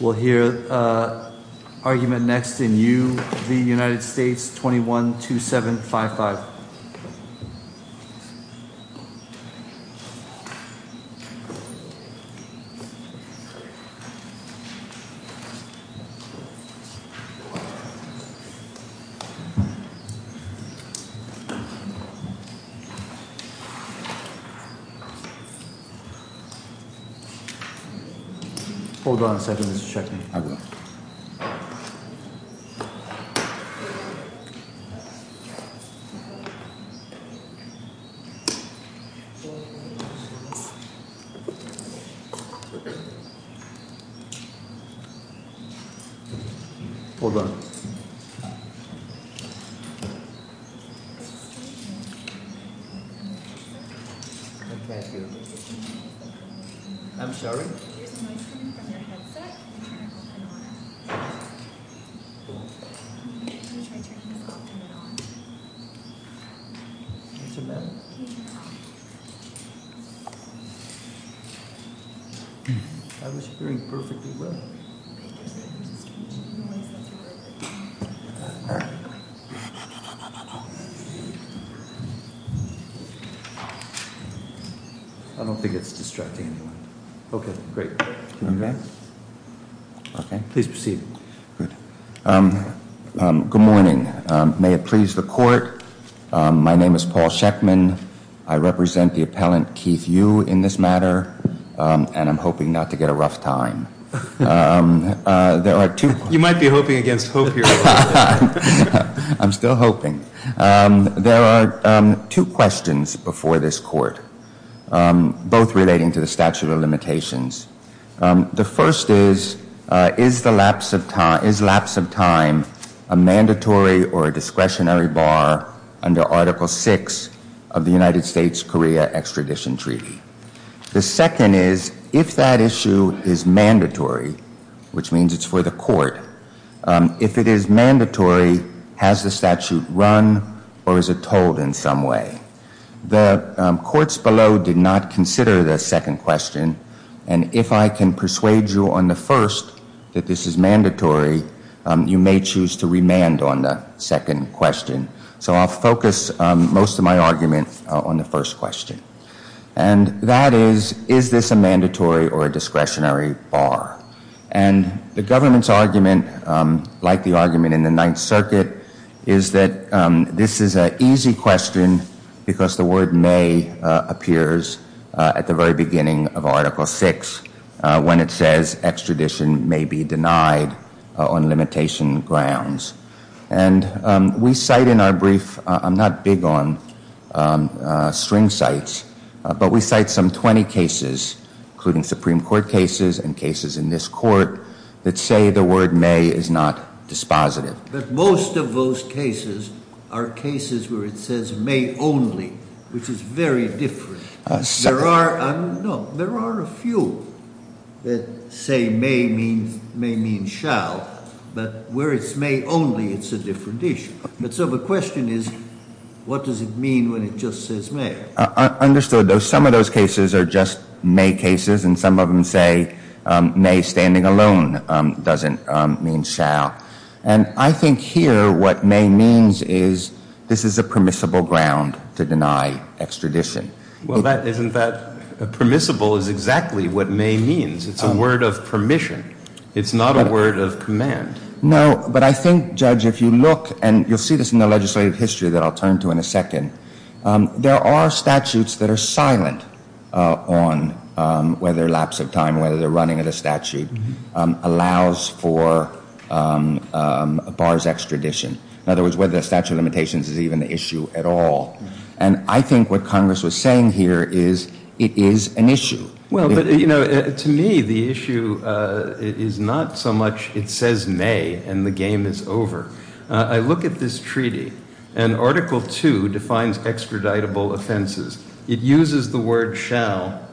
We'll hear argument next in U v. United States, 21-2755. We'll hear argument next in U v. United States, 21-2755. We'll hear argument next in U v. United States, 21-2755. I don't think it's distracting anyone. Okay, great. Okay? Okay. Please proceed. Good. Good morning. May it please the court. My name is Paul Sheckman. I represent the appellant, Keith Yu, in this matter. And I'm hoping not to get a rough time. There are two. You might be hoping against hope here. I'm still hoping. There are two questions before this court, both relating to the statute of limitations. The first is, is lapse of time a mandatory or a discretionary bar under Article VI of the United States-Korea Extradition Treaty? The second is, if that issue is mandatory, which means it's for the court, if it is mandatory, has the statute run or is it told in some way? The courts below did not consider the second question. And if I can persuade you on the first that this is mandatory, you may choose to remand on the second question. So I'll focus most of my argument on the first question. And that is, is this a mandatory or a discretionary bar? And the government's argument, like the argument in the Ninth Circuit, is that this is an easy question because the word may appears at the very beginning of Article VI when it says extradition may be denied on limitation grounds. And we cite in our brief, I'm not big on string sites, but we cite some 20 cases, including Supreme Court cases and cases in this court, that say the word may is not dispositive. But most of those cases are cases where it says may only, which is very different. There are a few that say may means shall, but where it's may only, it's a different issue. So the question is, what does it mean when it just says may? Understood. Some of those cases are just may cases, and some of them say may standing alone doesn't mean shall. And I think here what may means is this is a permissible ground to deny extradition. Well, isn't that permissible is exactly what may means. It's a word of permission. It's not a word of command. No, but I think, Judge, if you look, and you'll see this in the legislative history that I'll turn to in a second, there are statutes that are silent on whether lapse of time, whether they're running at a statute, allows for a bar's extradition. In other words, whether a statute of limitations is even an issue at all. And I think what Congress was saying here is it is an issue. Well, but, you know, to me, the issue is not so much it says may and the game is over. I look at this treaty, and Article 2 defines extraditable offenses. It uses the word shall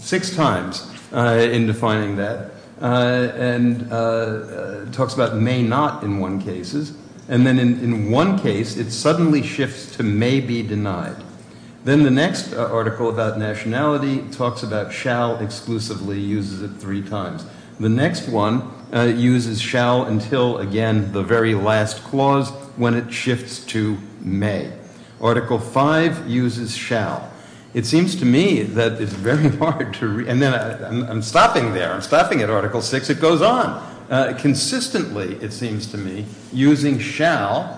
six times in defining that and talks about may not in one cases. And then in one case, it suddenly shifts to may be denied. Then the next article about nationality talks about shall exclusively uses it three times. The next one uses shall until, again, the very last clause when it shifts to may. Article 5 uses shall. It seems to me that it's very hard to read. I'm stopping there. I'm stopping at Article 6. It goes on. Consistently, it seems to me, using shall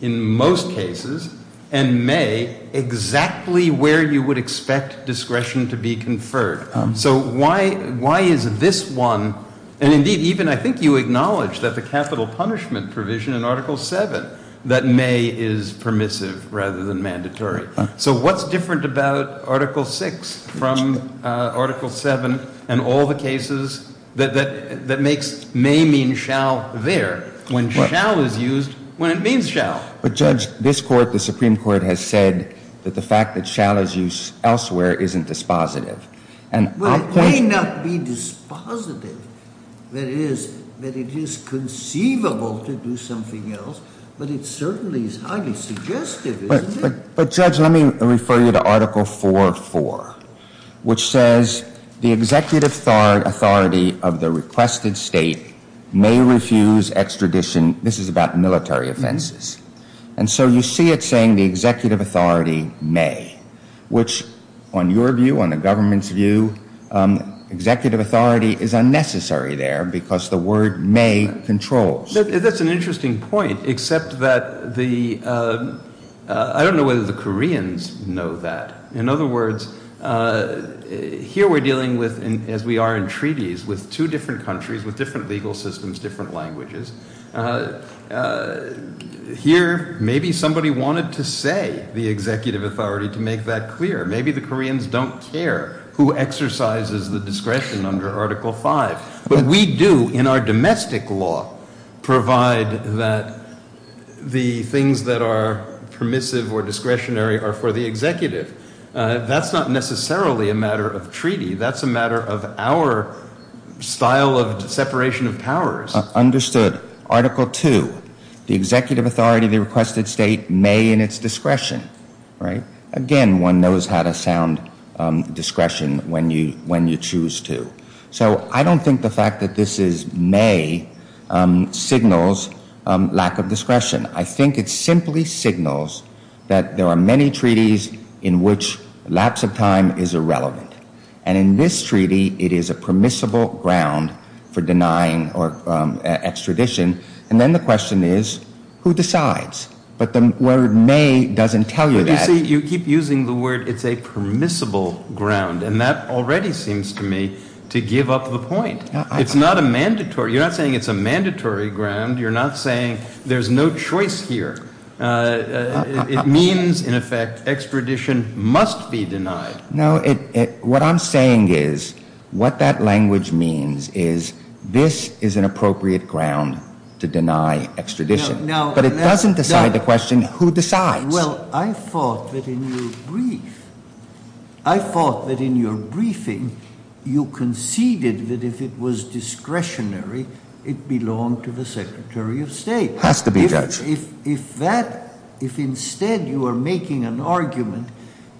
in most cases and may exactly where you would expect discretion to be conferred. So why is this one? And, indeed, even I think you acknowledge that the capital punishment provision in Article 7 that may is permissive rather than mandatory. So what's different about Article 6 from Article 7 and all the cases that makes may mean shall there when shall is used when it means shall? But, Judge, this Court, the Supreme Court, has said that the fact that shall is used elsewhere isn't dispositive. Well, it may not be dispositive. That is, that it is conceivable to do something else, but it certainly is highly suggestive, isn't it? But, Judge, let me refer you to Article 4.4, which says the executive authority of the requested state may refuse extradition. This is about military offenses. And so you see it saying the executive authority may, which, on your view, on the government's view, executive authority is unnecessary there because the word may controls. That's an interesting point, except that I don't know whether the Koreans know that. In other words, here we're dealing with, as we are in treaties, with two different countries, with different legal systems, different languages. Here maybe somebody wanted to say the executive authority to make that clear. Maybe the Koreans don't care who exercises the discretion under Article 5. But we do in our domestic law provide that the things that are permissive or discretionary are for the executive. That's not necessarily a matter of treaty. That's a matter of our style of separation of powers. Understood. Article 2, the executive authority of the requested state may in its discretion. Again, one knows how to sound discretion when you choose to. So I don't think the fact that this is may signals lack of discretion. I think it simply signals that there are many treaties in which lapse of time is irrelevant. And in this treaty, it is a permissible ground for denying extradition. And then the question is, who decides? But the word may doesn't tell you that. You see, you keep using the word it's a permissible ground. And that already seems to me to give up the point. It's not a mandatory. You're not saying it's a mandatory ground. You're not saying there's no choice here. It means, in effect, extradition must be denied. No, what I'm saying is what that language means is this is an appropriate ground to deny extradition. But it doesn't decide the question who decides. Well, I thought that in your brief, I thought that in your briefing, you conceded that if it was discretionary, it belonged to the secretary of state. It has to be, Judge. If that, if instead you are making an argument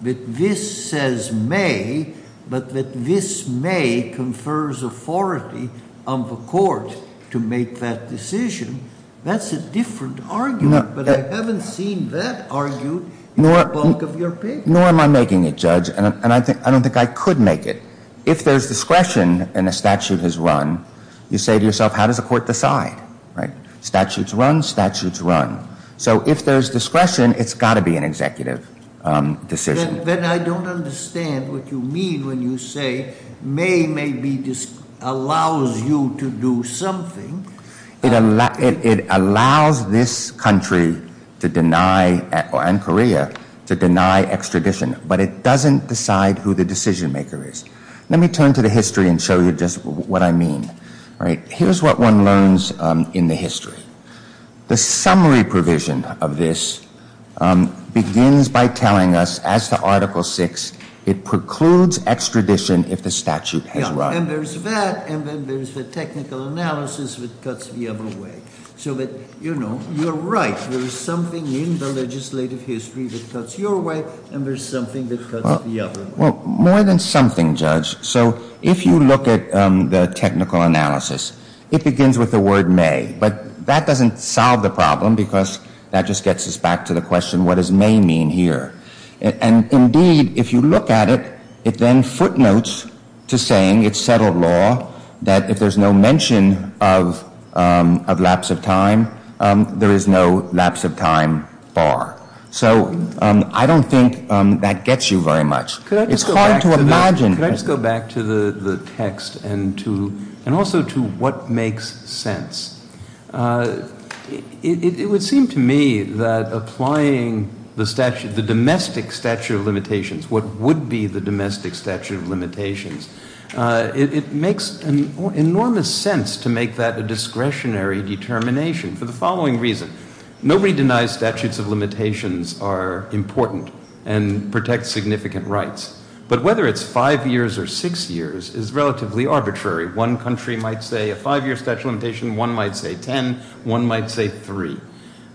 that this says may, but that this may confers authority on the court to make that decision, that's a different argument. But I haven't seen that argued in the bulk of your papers. Nor am I making it, Judge. And I don't think I could make it. If there's discretion and a statute is run, you say to yourself, how does the court decide? Right? Statutes run, statutes run. So if there's discretion, it's got to be an executive decision. Then I don't understand what you mean when you say may maybe allows you to do something. It allows this country to deny, and Korea, to deny extradition. But it doesn't decide who the decision maker is. Let me turn to the history and show you just what I mean. All right. Here's what one learns in the history. The summary provision of this begins by telling us, as to Article VI, it precludes extradition if the statute has run. And there's that, and then there's the technical analysis that cuts the other way. So that, you know, you're right. There is something in the legislative history that cuts your way, and there's something that cuts the other way. Well, more than something, Judge. So if you look at the technical analysis, it begins with the word may. But that doesn't solve the problem because that just gets us back to the question, what does may mean here? And, indeed, if you look at it, it then footnotes to saying it's settled law that if there's no mention of lapse of time, there is no lapse of time bar. So I don't think that gets you very much. It's hard to imagine. Could I just go back to the text and also to what makes sense? It would seem to me that applying the statute, the domestic statute of limitations, what would be the domestic statute of limitations, it makes enormous sense to make that a discretionary determination for the following reason. Nobody denies statutes of limitations are important and protect significant rights. But whether it's five years or six years is relatively arbitrary. One country might say a five-year statute of limitations, one might say ten, one might say three.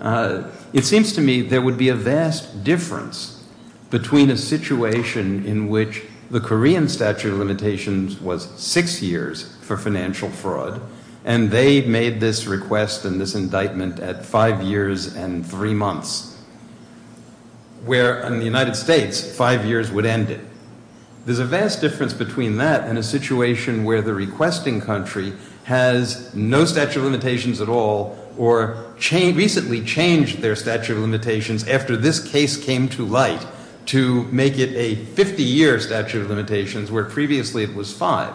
It seems to me there would be a vast difference between a situation in which the Korean statute of limitations was six years for financial fraud and they made this request and this indictment at five years and three months, where in the United States, five years would end it. There's a vast difference between that and a situation where the requesting country has no statute of limitations at all or recently changed their statute of limitations after this case came to light to make it a 50-year statute of limitations, where previously it was five.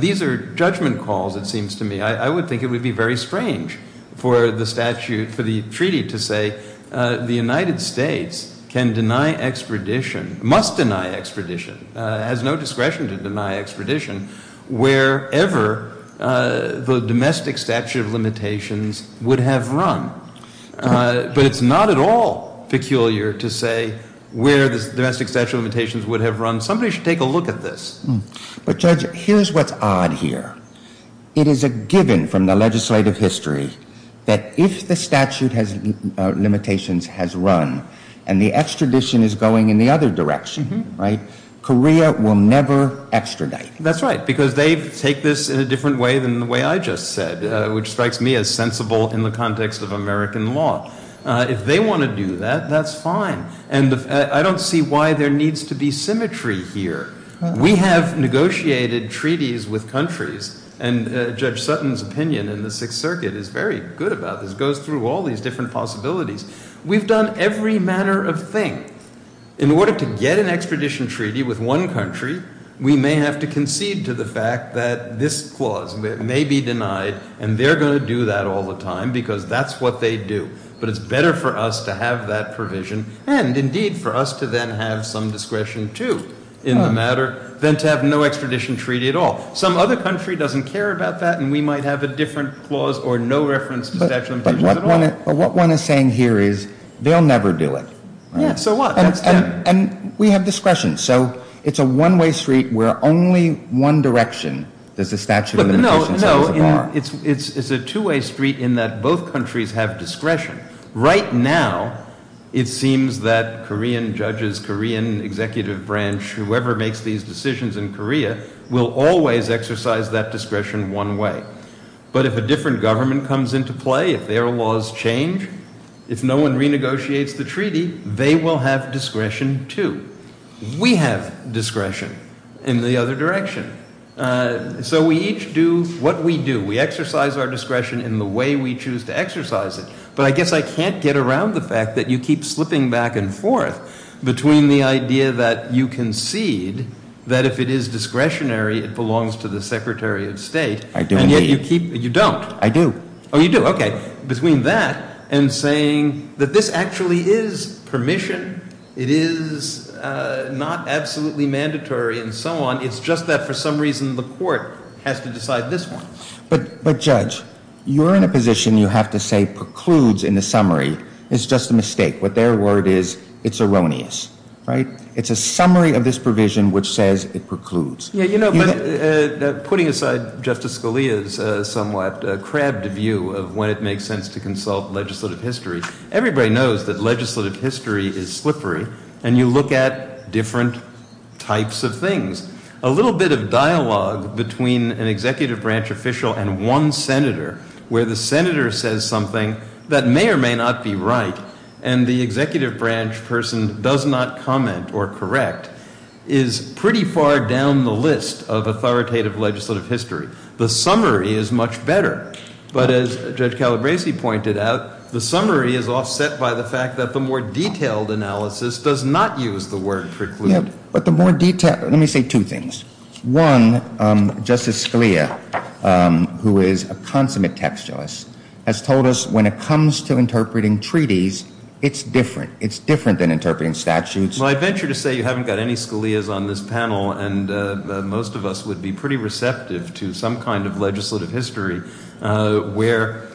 These are judgment calls, it seems to me. I would think it would be very strange for the treaty to say the United States can deny expedition, must deny expedition, has no discretion to deny expedition wherever the domestic statute of limitations would have run. But it's not at all peculiar to say where the domestic statute of limitations would have run. Somebody should take a look at this. But Judge, here's what's odd here. It is a given from the legislative history that if the statute of limitations has run and the extradition is going in the other direction, right, Korea will never extradite. That's right, because they take this in a different way than the way I just said, which strikes me as sensible in the context of American law. If they want to do that, that's fine. And I don't see why there needs to be symmetry here. We have negotiated treaties with countries, and Judge Sutton's opinion in the Sixth Circuit is very good about this. It goes through all these different possibilities. We've done every manner of thing. In order to get an extradition treaty with one country, we may have to concede to the fact that this clause may be denied, and they're going to do that all the time because that's what they do. But it's better for us to have that provision, and indeed for us to then have some discretion, too, in the matter, than to have no extradition treaty at all. Some other country doesn't care about that, and we might have a different clause or no reference to statute of limitations at all. But what one is saying here is they'll never do it. Yeah, so what? That's them. And we have discretion. So it's a one-way street where only one direction does the statute of limitations say it's a bar. No, no, it's a two-way street in that both countries have discretion. Right now, it seems that Korean judges, Korean executive branch, whoever makes these decisions in Korea will always exercise that discretion one way. But if a different government comes into play, if their laws change, if no one renegotiates the treaty, they will have discretion, too. We have discretion in the other direction. So we each do what we do. We exercise our discretion in the way we choose to exercise it. But I guess I can't get around the fact that you keep slipping back and forth between the idea that you concede that if it is discretionary, it belongs to the secretary of state. I do indeed. And yet you don't. I do. Oh, you do. Okay. Between that and saying that this actually is permission, it is not absolutely mandatory and so on. It's just that for some reason the court has to decide this one. But, Judge, you're in a position you have to say precludes in the summary. It's just a mistake. What their word is, it's erroneous. Right? It's a summary of this provision which says it precludes. Yeah, you know, putting aside Justice Scalia's somewhat crabbed view of when it makes sense to consult legislative history, everybody knows that legislative history is slippery, and you look at different types of things. A little bit of dialogue between an executive branch official and one senator where the senator says something that may or may not be right and the executive branch person does not comment or correct is pretty far down the list of authoritative legislative history. The summary is much better. But as Judge Calabresi pointed out, the summary is offset by the fact that the more detailed analysis does not use the word preclude. Let me say two things. One, Justice Scalia, who is a consummate textualist, has told us when it comes to interpreting treaties, it's different. It's different than interpreting statutes. Well, I venture to say you haven't got any Scalia's on this panel, and most of us would be pretty receptive to some kind of legislative history where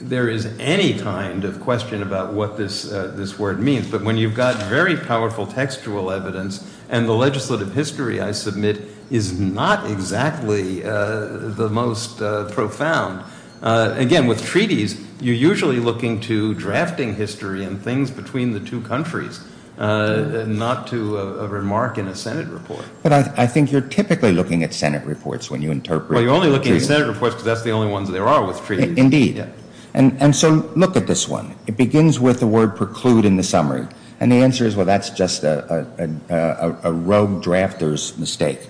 there is any kind of question about what this word means. But when you've got very powerful textual evidence and the legislative history, I submit, is not exactly the most profound. Again, with treaties, you're usually looking to drafting history and things between the two countries, not to a remark in a Senate report. But I think you're typically looking at Senate reports when you interpret. Well, you're only looking at Senate reports because that's the only ones there are with treaties. Indeed. And so look at this one. It begins with the word preclude in the summary. And the answer is, well, that's just a rogue drafter's mistake.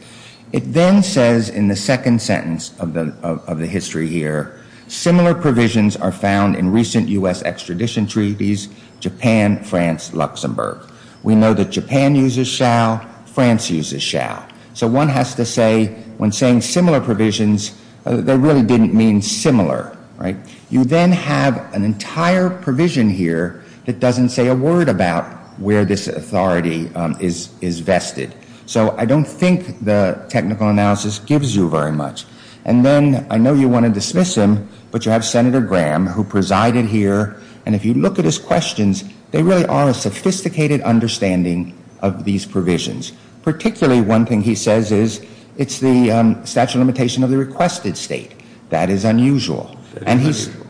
It then says in the second sentence of the history here, similar provisions are found in recent U.S. extradition treaties, Japan, France, Luxembourg. We know that Japan uses shall, France uses shall. So one has to say, when saying similar provisions, they really didn't mean similar. You then have an entire provision here that doesn't say a word about where this authority is vested. So I don't think the technical analysis gives you very much. And then I know you want to dismiss him, but you have Senator Graham, who presided here. And if you look at his questions, they really are a sophisticated understanding of these provisions. Particularly one thing he says is it's the statute of limitation of the requested state. That is unusual. That is unusual.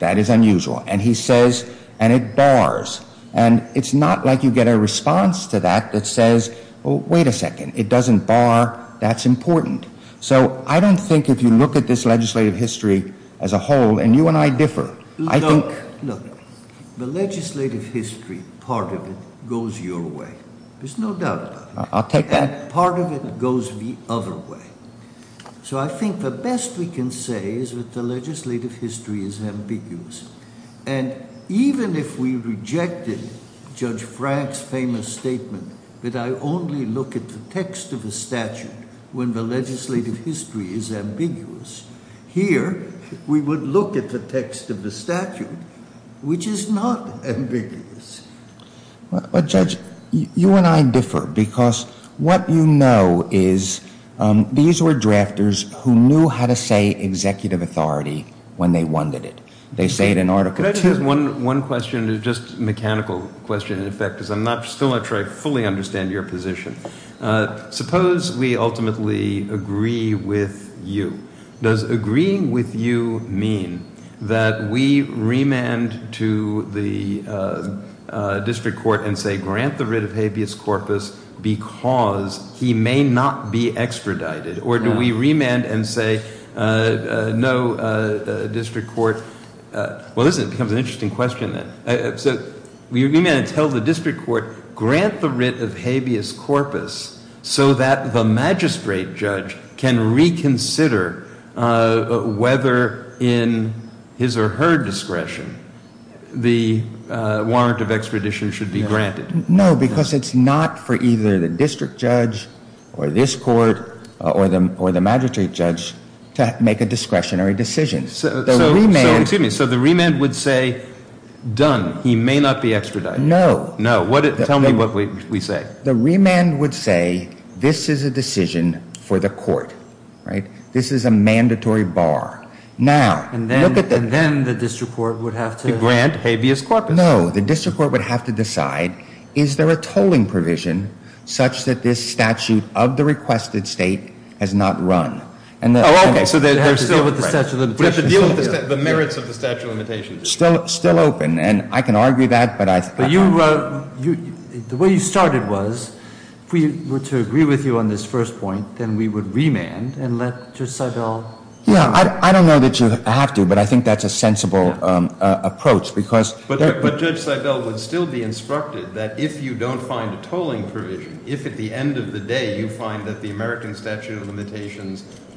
That is unusual. And he says, and it bars. And it's not like you get a response to that that says, well, wait a second, it doesn't bar, that's important. So I don't think if you look at this legislative history as a whole, and you and I differ. Look, the legislative history, part of it goes your way. There's no doubt about it. I'll take that. Part of it goes the other way. So I think the best we can say is that the legislative history is ambiguous. And even if we rejected Judge Frank's famous statement that I only look at the text of the statute when the legislative history is ambiguous, here we would look at the text of the statute, which is not ambiguous. Well, Judge, you and I differ because what you know is these were drafters who knew how to say executive authority when they wanted it. They say it in Article 2. One question is just a mechanical question, in effect, because I'm still not sure I fully understand your position. Suppose we ultimately agree with you. Does agreeing with you mean that we remand to the district court and say, grant the writ of habeas corpus because he may not be extradited? Or do we remand and say, no, district court – well, listen, it becomes an interesting question then. So we remand and tell the district court, grant the writ of habeas corpus so that the magistrate judge can reconsider whether, in his or her discretion, the warrant of extradition should be granted. No, because it's not for either the district judge or this court or the magistrate judge to make a discretionary decision. So the remand would say, done, he may not be extradited. No. Tell me what we say. The remand would say, this is a decision for the court, right? This is a mandatory bar. And then the district court would have to grant habeas corpus. No, the district court would have to decide, is there a tolling provision such that this statute of the requested state has not run? Oh, okay. So they have to deal with the merits of the statute of limitations. Still open. And I can argue that. But the way you started was, if we were to agree with you on this first point, then we would remand and let Judge Seibel – Yeah, I don't know that you have to, but I think that's a sensible approach because –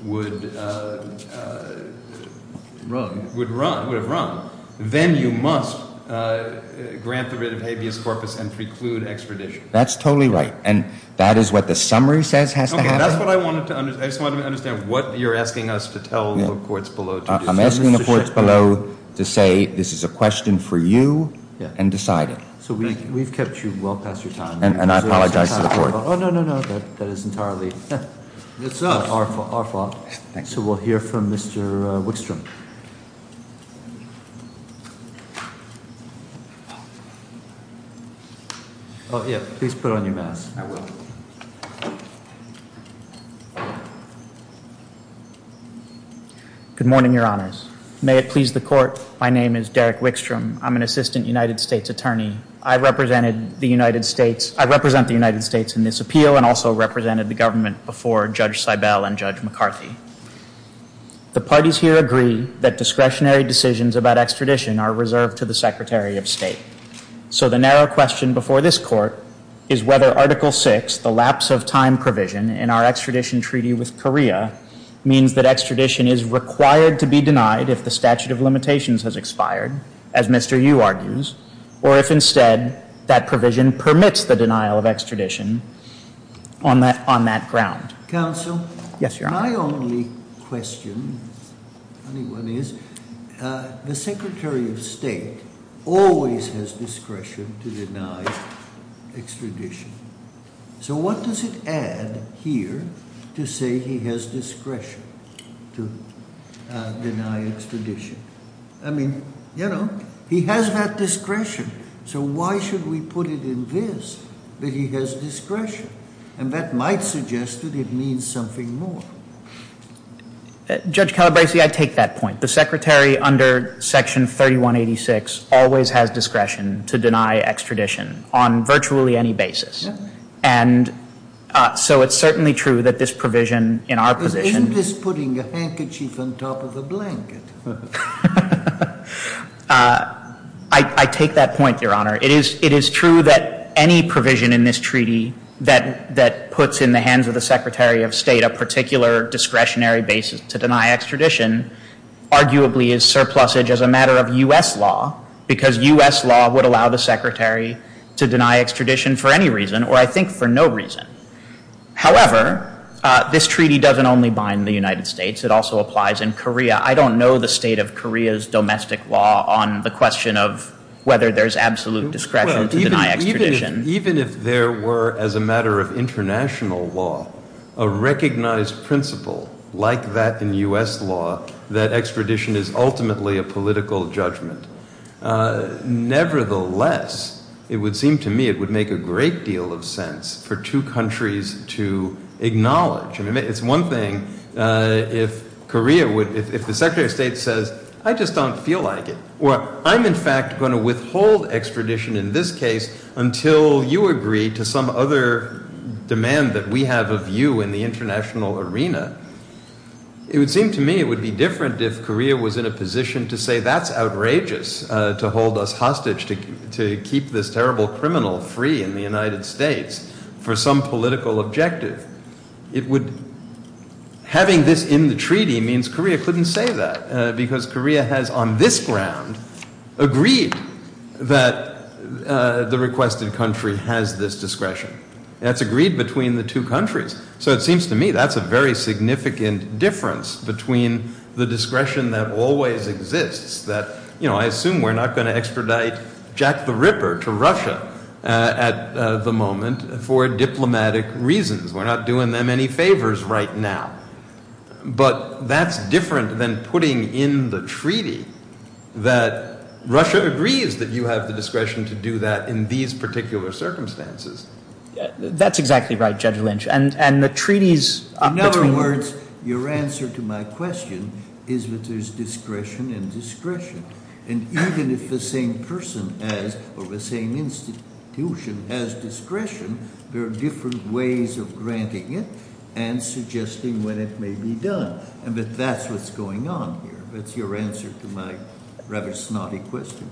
Would run. Would have run. Then you must grant the writ of habeas corpus and preclude extradition. That's totally right. And that is what the summary says has to happen? Okay, that's what I wanted to understand. I just wanted to understand what you're asking us to tell the courts below to decide. I'm asking the courts below to say this is a question for you and decide it. So we've kept you well past your time. And I apologize to the court. Oh, no, no, no. That is entirely our fault. So we'll hear from Mr. Wickstrom. Oh, yeah, please put on your mask. I will. Good morning, Your Honors. May it please the court, my name is Derek Wickstrom. I'm an assistant United States attorney. I represented the United States – I represent the United States in this appeal and also represented the government before Judge Seibel and Judge McCarthy. The parties here agree that discretionary decisions about extradition are reserved to the Secretary of State. So the narrow question before this court is whether Article VI, the lapse of time provision, in our extradition treaty with Korea means that extradition is required to be denied if the statute of limitations has expired, as Mr. Yu argues, or if instead that provision permits the denial of extradition on that ground. Counsel? Yes, Your Honor. My only question, funny one, is the Secretary of State always has discretion to deny extradition. So what does it add here to say he has discretion to deny extradition? I mean, you know, he has that discretion, so why should we put it in this that he has discretion? And that might suggest that it means something more. Judge Calabresi, I take that point. The Secretary under Section 3186 always has discretion to deny extradition on virtually any basis. And so it's certainly true that this provision in our position Isn't this putting a handkerchief on top of the blanket? I take that point, Your Honor. It is true that any provision in this treaty that puts in the hands of the Secretary of State a particular discretionary basis to deny extradition arguably is surplusage as a matter of U.S. law because U.S. law would allow the Secretary to deny extradition for any reason, or I think for no reason. However, this treaty doesn't only bind the United States. It also applies in Korea. I don't know the state of Korea's domestic law on the question of whether there's absolute discretion to deny extradition. Even if there were, as a matter of international law, a recognized principle like that in U.S. law that extradition is ultimately a political judgment, nevertheless, it would seem to me it would make a great deal of sense for two countries to acknowledge. It's one thing if the Secretary of State says, I just don't feel like it. Or, I'm in fact going to withhold extradition in this case until you agree to some other demand that we have of you in the international arena. It would seem to me it would be different if Korea was in a position to say that's outrageous, to hold us hostage, to keep this terrible criminal free in the United States for some political objective. Having this in the treaty means Korea couldn't say that because Korea has on this ground agreed that the requested country has this discretion. That's agreed between the two countries. So it seems to me that's a very significant difference between the discretion that always exists, that I assume we're not going to extradite Jack the Ripper to Russia at the moment for diplomatic reasons. We're not doing them any favors right now. But that's different than putting in the treaty that Russia agrees that you have the discretion to do that in these particular circumstances. That's exactly right, Judge Lynch. And the treaties between— In other words, your answer to my question is that there's discretion and discretion. And even if the same person has or the same institution has discretion, there are different ways of granting it and suggesting when it may be done. But that's what's going on here. That's your answer to my rather snotty question.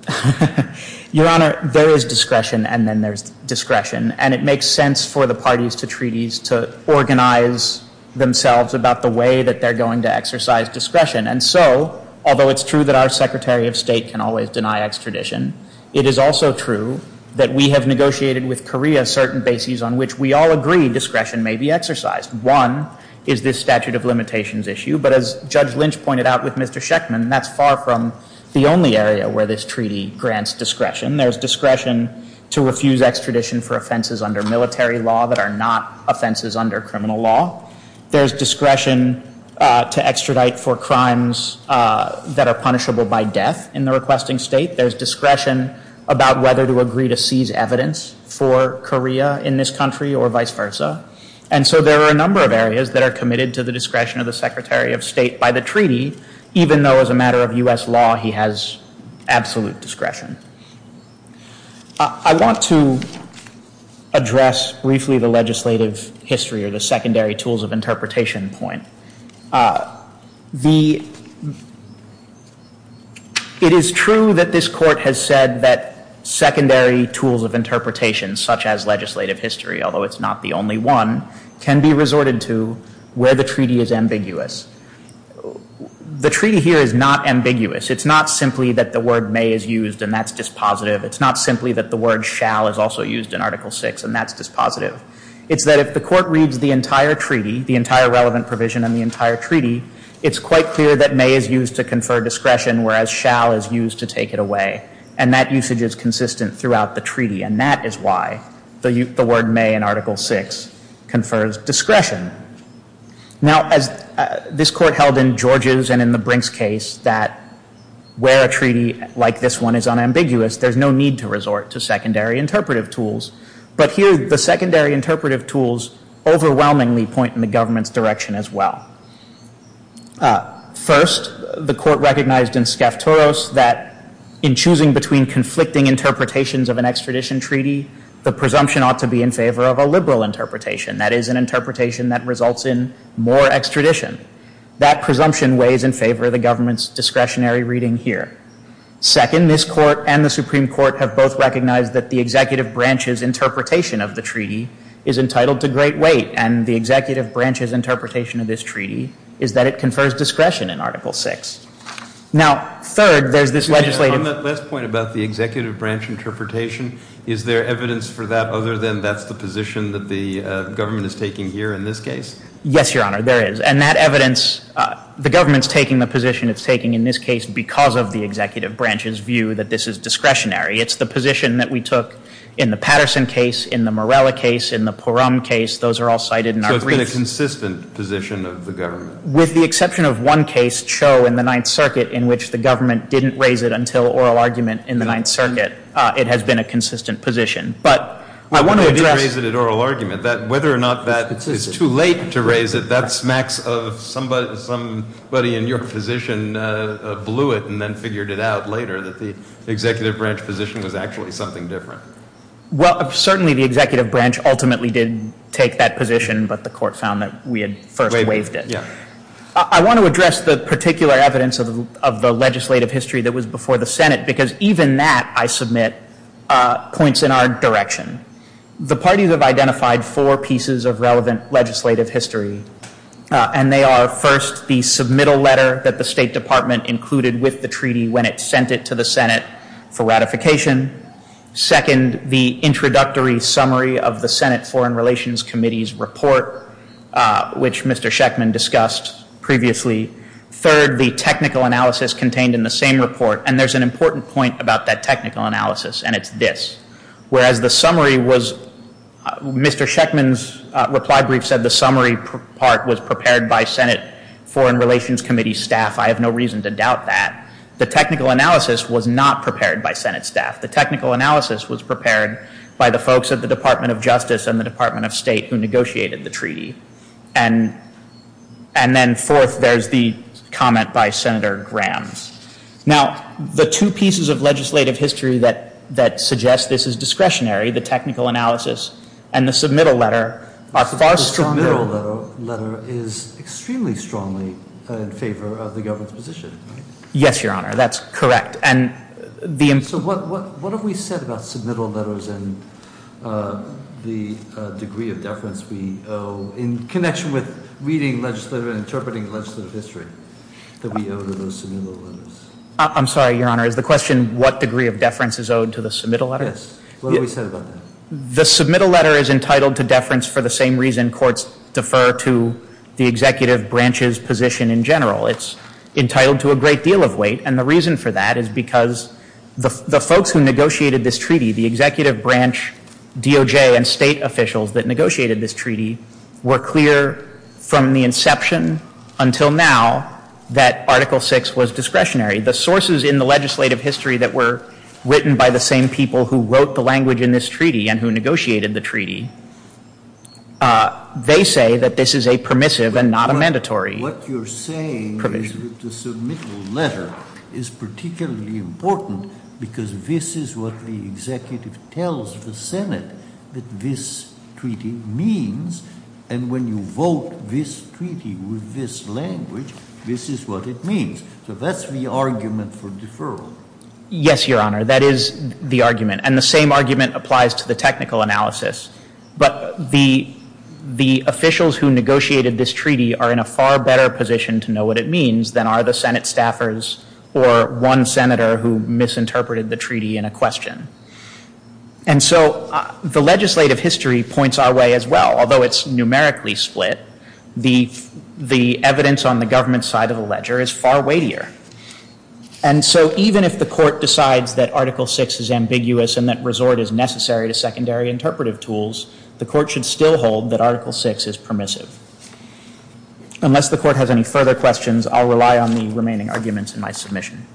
Your Honor, there is discretion and then there's discretion. And it makes sense for the parties to treaties to organize themselves about the way that they're going to exercise discretion. And so, although it's true that our Secretary of State can always deny extradition, it is also true that we have negotiated with Korea certain bases on which we all agree discretion may be exercised. One is this statute of limitations issue. But as Judge Lynch pointed out with Mr. Schechtman, that's far from the only area where this treaty grants discretion. There's discretion to refuse extradition for offenses under military law that are not offenses under criminal law. There's discretion to extradite for crimes that are punishable by death in the requesting state. There's discretion about whether to agree to seize evidence for Korea in this country or vice versa. And so, there are a number of areas that are committed to the discretion of the Secretary of State by the treaty, even though as a matter of U.S. law, he has absolute discretion. I want to address briefly the legislative history or the secondary tools of interpretation point. It is true that this Court has said that secondary tools of interpretation, such as legislative history, although it's not the only one, can be resorted to where the treaty is ambiguous. The treaty here is not ambiguous. It's not simply that the word may is used, and that's dispositive. It's not simply that the word shall is also used in Article VI, and that's dispositive. It's that if the Court reads the entire treaty, the entire relevant provision in the entire treaty, it's quite clear that may is used to confer discretion, whereas shall is used to take it away. And that usage is consistent throughout the treaty. And that is why the word may in Article VI confers discretion. Now, as this Court held in George's and in the Brink's case that where a treaty like this one is unambiguous, there's no need to resort to secondary interpretive tools. But here, the secondary interpretive tools overwhelmingly point in the government's direction as well. First, the Court recognized in Sceftoros that in choosing between conflicting interpretations of an extradition treaty, the presumption ought to be in favor of a liberal interpretation, that is, an interpretation that results in more extradition. That presumption weighs in favor of the government's discretionary reading here. Second, this Court and the Supreme Court have both recognized that the executive branch's interpretation of the treaty is entitled to great weight. And the executive branch's interpretation of this treaty is that it confers discretion in Article VI. Now, third, there's this legislative— Excuse me. On that last point about the executive branch interpretation, is there evidence for that other than that's the position that the government is taking here in this case? Yes, Your Honor, there is. And that evidence, the government's taking the position it's taking in this case because of the executive branch's view that this is discretionary. It's the position that we took in the Patterson case, in the Morella case, in the Porum case. Those are all cited in our briefs. So it's been a consistent position of the government? With the exception of one case, Cho in the Ninth Circuit, in which the government didn't raise it until oral argument in the Ninth Circuit, it has been a consistent position. But I want to address— Well, they did raise it at oral argument. Whether or not that it's too late to raise it, that smacks of somebody in your position blew it and then figured it out later that the executive branch position was actually something different. Well, certainly the executive branch ultimately did take that position, but the Court found that we had first waived it. Waived it, yeah. I want to address the particular evidence of the legislative history that was before the Senate because even that, I submit, points in our direction. The parties have identified four pieces of relevant legislative history, and they are, first, the submittal letter that the State Department included with the treaty when it sent it to the Senate for ratification. Second, the introductory summary of the Senate Foreign Relations Committee's report, which Mr. Schechtman discussed previously. Third, the technical analysis contained in the same report, and there's an important point about that technical analysis, and it's this. Whereas the summary was, Mr. Schechtman's reply brief said the summary part was prepared by Senate Foreign Relations Committee staff. I have no reason to doubt that. The technical analysis was not prepared by Senate staff. The technical analysis was prepared by the folks at the Department of Justice and the Department of State who negotiated the treaty. And then fourth, there's the comment by Senator Graham. Now, the two pieces of legislative history that suggest this is discretionary, the technical analysis and the submittal letter, are far stronger. The submittal letter is extremely strongly in favor of the government's position, right? Yes, Your Honor, that's correct. So what have we said about submittal letters and the degree of deference we owe in connection with reading legislative and interpreting legislative history that we owe to those submittal letters? I'm sorry, Your Honor. Is the question what degree of deference is owed to the submittal letter? Yes. What have we said about that? The submittal letter is entitled to deference for the same reason courts defer to the executive branch's position in general. It's entitled to a great deal of weight. And the reason for that is because the folks who negotiated this treaty, the executive branch DOJ and state officials that negotiated this treaty, were clear from the inception until now that Article VI was discretionary. The sources in the legislative history that were written by the same people who wrote the language in this treaty and who negotiated the treaty, they say that this is a permissive and not a mandatory provision. But what you're saying is that the submittal letter is particularly important because this is what the executive tells the Senate that this treaty means. And when you vote this treaty with this language, this is what it means. So that's the argument for deferral. Yes, Your Honor. That is the argument. And the same argument applies to the technical analysis. But the officials who negotiated this treaty are in a far better position to know what it means than are the Senate staffers or one senator who misinterpreted the treaty in a question. And so the legislative history points our way as well. Although it's numerically split, the evidence on the government side of the ledger is far weightier. And so even if the Court decides that Article VI is ambiguous and that resort is necessary to secondary interpretive tools, the Court should still hold that Article VI is permissive. Unless the Court has any further questions, I'll rely on the remaining arguments in my submission.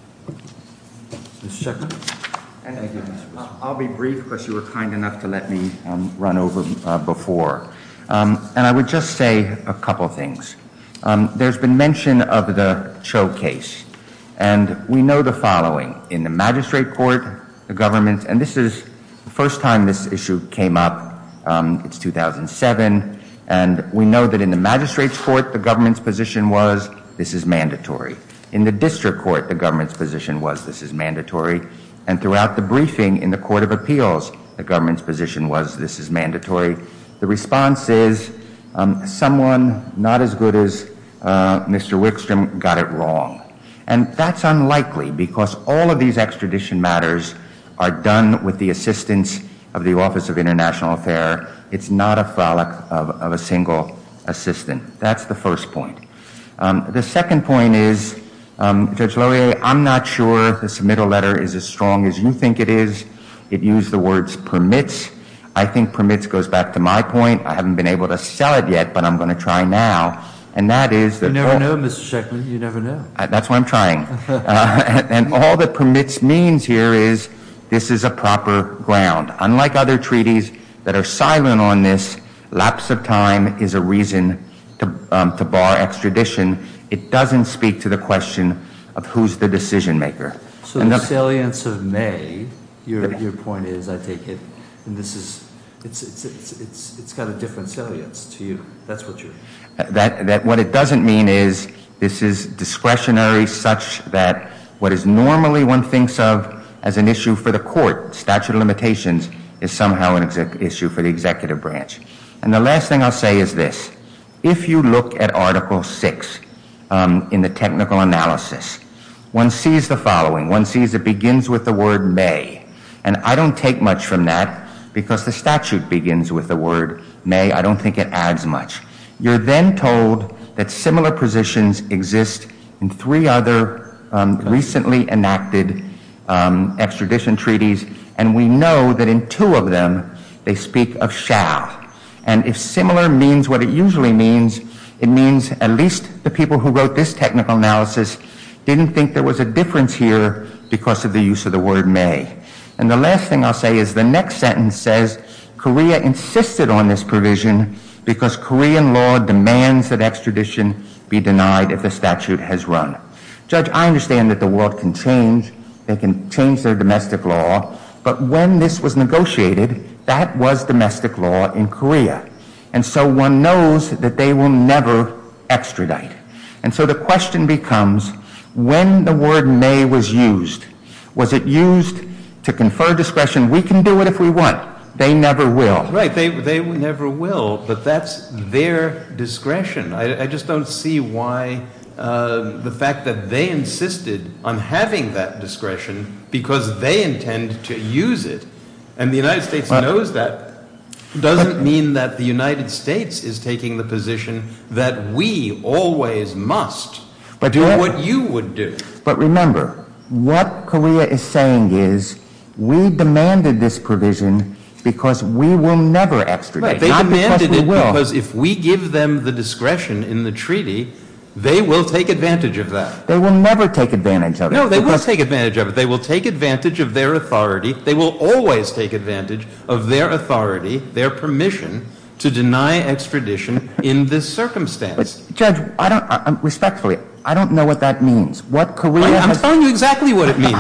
Mr. Chairman? I'll be brief because you were kind enough to let me run over before. And I would just say a couple of things. There's been mention of the Cho case. And we know the following. In the magistrate court, the government, and this is the first time this issue came up. It's 2007. And we know that in the magistrate's court, the government's position was this is mandatory. In the district court, the government's position was this is mandatory. And throughout the briefing in the Court of Appeals, the government's position was this is mandatory. The response is someone not as good as Mr. Wickstrom got it wrong. And that's unlikely because all of these extradition matters are done with the assistance of the Office of International Affair. It's not a frolic of a single assistant. That's the first point. The second point is, Judge Laurier, I'm not sure the submittal letter is as strong as you think it is. It used the words permits. I think permits goes back to my point. I haven't been able to sell it yet, but I'm going to try now. And that is that all the permits means here is this is a proper ground. Unlike other treaties that are silent on this, lapse of time is a reason to bar extradition. It doesn't speak to the question of who's the decision maker. So the salience of May, your point is, I take it, it's got a different salience to you. That's what you're saying. What it doesn't mean is this is discretionary such that what is normally one thinks of as an issue for the court, statute of limitations, is somehow an issue for the executive branch. And the last thing I'll say is this. If you look at Article VI in the technical analysis, one sees the following. One sees it begins with the word may. And I don't take much from that because the statute begins with the word may. I don't think it adds much. You're then told that similar positions exist in three other recently enacted extradition treaties, and we know that in two of them they speak of shall. And if similar means what it usually means, it means at least the people who wrote this technical analysis didn't think there was a difference here because of the use of the word may. And the last thing I'll say is the next sentence says Korea insisted on this provision because Korean law demands that extradition be denied if the statute has run. Judge, I understand that the world can change. They can change their domestic law. But when this was negotiated, that was domestic law in Korea. And so one knows that they will never extradite. And so the question becomes when the word may was used, was it used to confer discretion? We can do it if we want. They never will. Right. They never will. But that's their discretion. I just don't see why the fact that they insisted on having that discretion because they intend to use it, and the United States knows that, doesn't mean that the United States is taking the position that we always must do what you would do. But remember, what Korea is saying is we demanded this provision because we will never extradite. They demanded it because if we give them the discretion in the treaty, they will take advantage of that. They will never take advantage of it. No, they will take advantage of it. They will take advantage of their authority. They will always take advantage of their authority, their permission to deny extradition in this circumstance. Judge, respectfully, I don't know what that means. I'm telling you exactly what it means.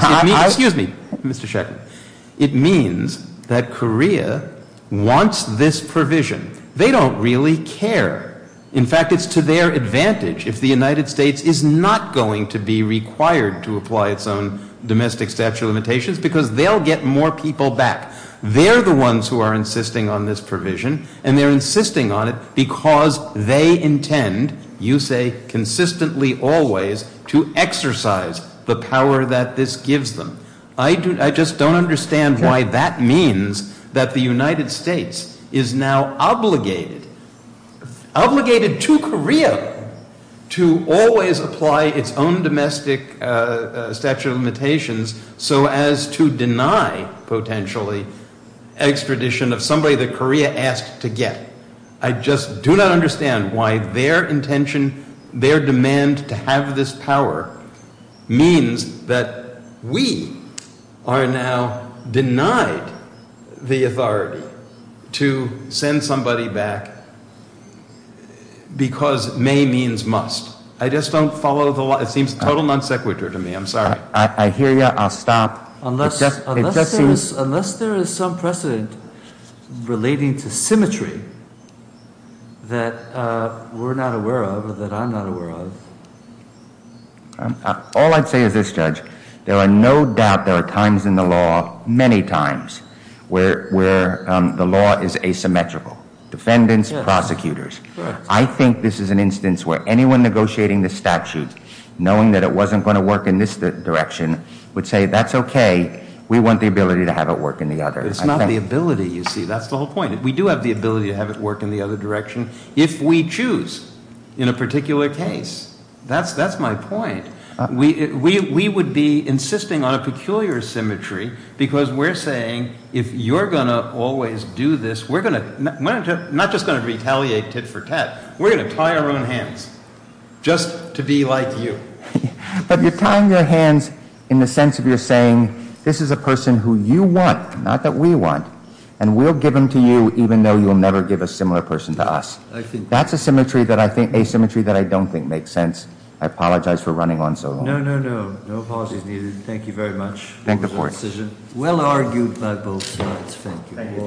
It means that Korea wants this provision. They don't really care. In fact, it's to their advantage if the United States is not going to be required to apply its own domestic statute of limitations because they'll get more people back. They're the ones who are insisting on this provision, and they're insisting on it because they intend, you say consistently always, to exercise the power that this gives them. I just don't understand why that means that the United States is now obligated, obligated to Korea to always apply its own domestic statute of limitations so as to deny, potentially, extradition of somebody that Korea asked to get. I just do not understand why their intention, their demand to have this power, means that we are now denied the authority to send somebody back because may means must. I just don't follow the law. It seems total non sequitur to me. I'm sorry. I hear you. I'll stop. Unless there is some precedent relating to symmetry that we're not aware of or that I'm not aware of. All I'd say is this, Judge. There are no doubt there are times in the law, many times, where the law is asymmetrical. Defendants, prosecutors. I think this is an instance where anyone negotiating the statute, knowing that it wasn't going to work in this direction, would say that's okay. We want the ability to have it work in the other. It's not the ability, you see. That's the whole point. We do have the ability to have it work in the other direction if we choose in a particular case. That's my point. We would be insisting on a peculiar symmetry because we're saying if you're going to always do this, we're not just going to retaliate tit for tat. We're going to tie our own hands just to be like you. But you're tying your hands in the sense of you're saying this is a person who you want, not that we want, and we'll give them to you even though you'll never give a similar person to us. That's asymmetry that I don't think makes sense. I apologize for running on so long. No, no, no. No apologies needed. Thank you very much. Thank you for your decision. Well argued by both sides. Thank you.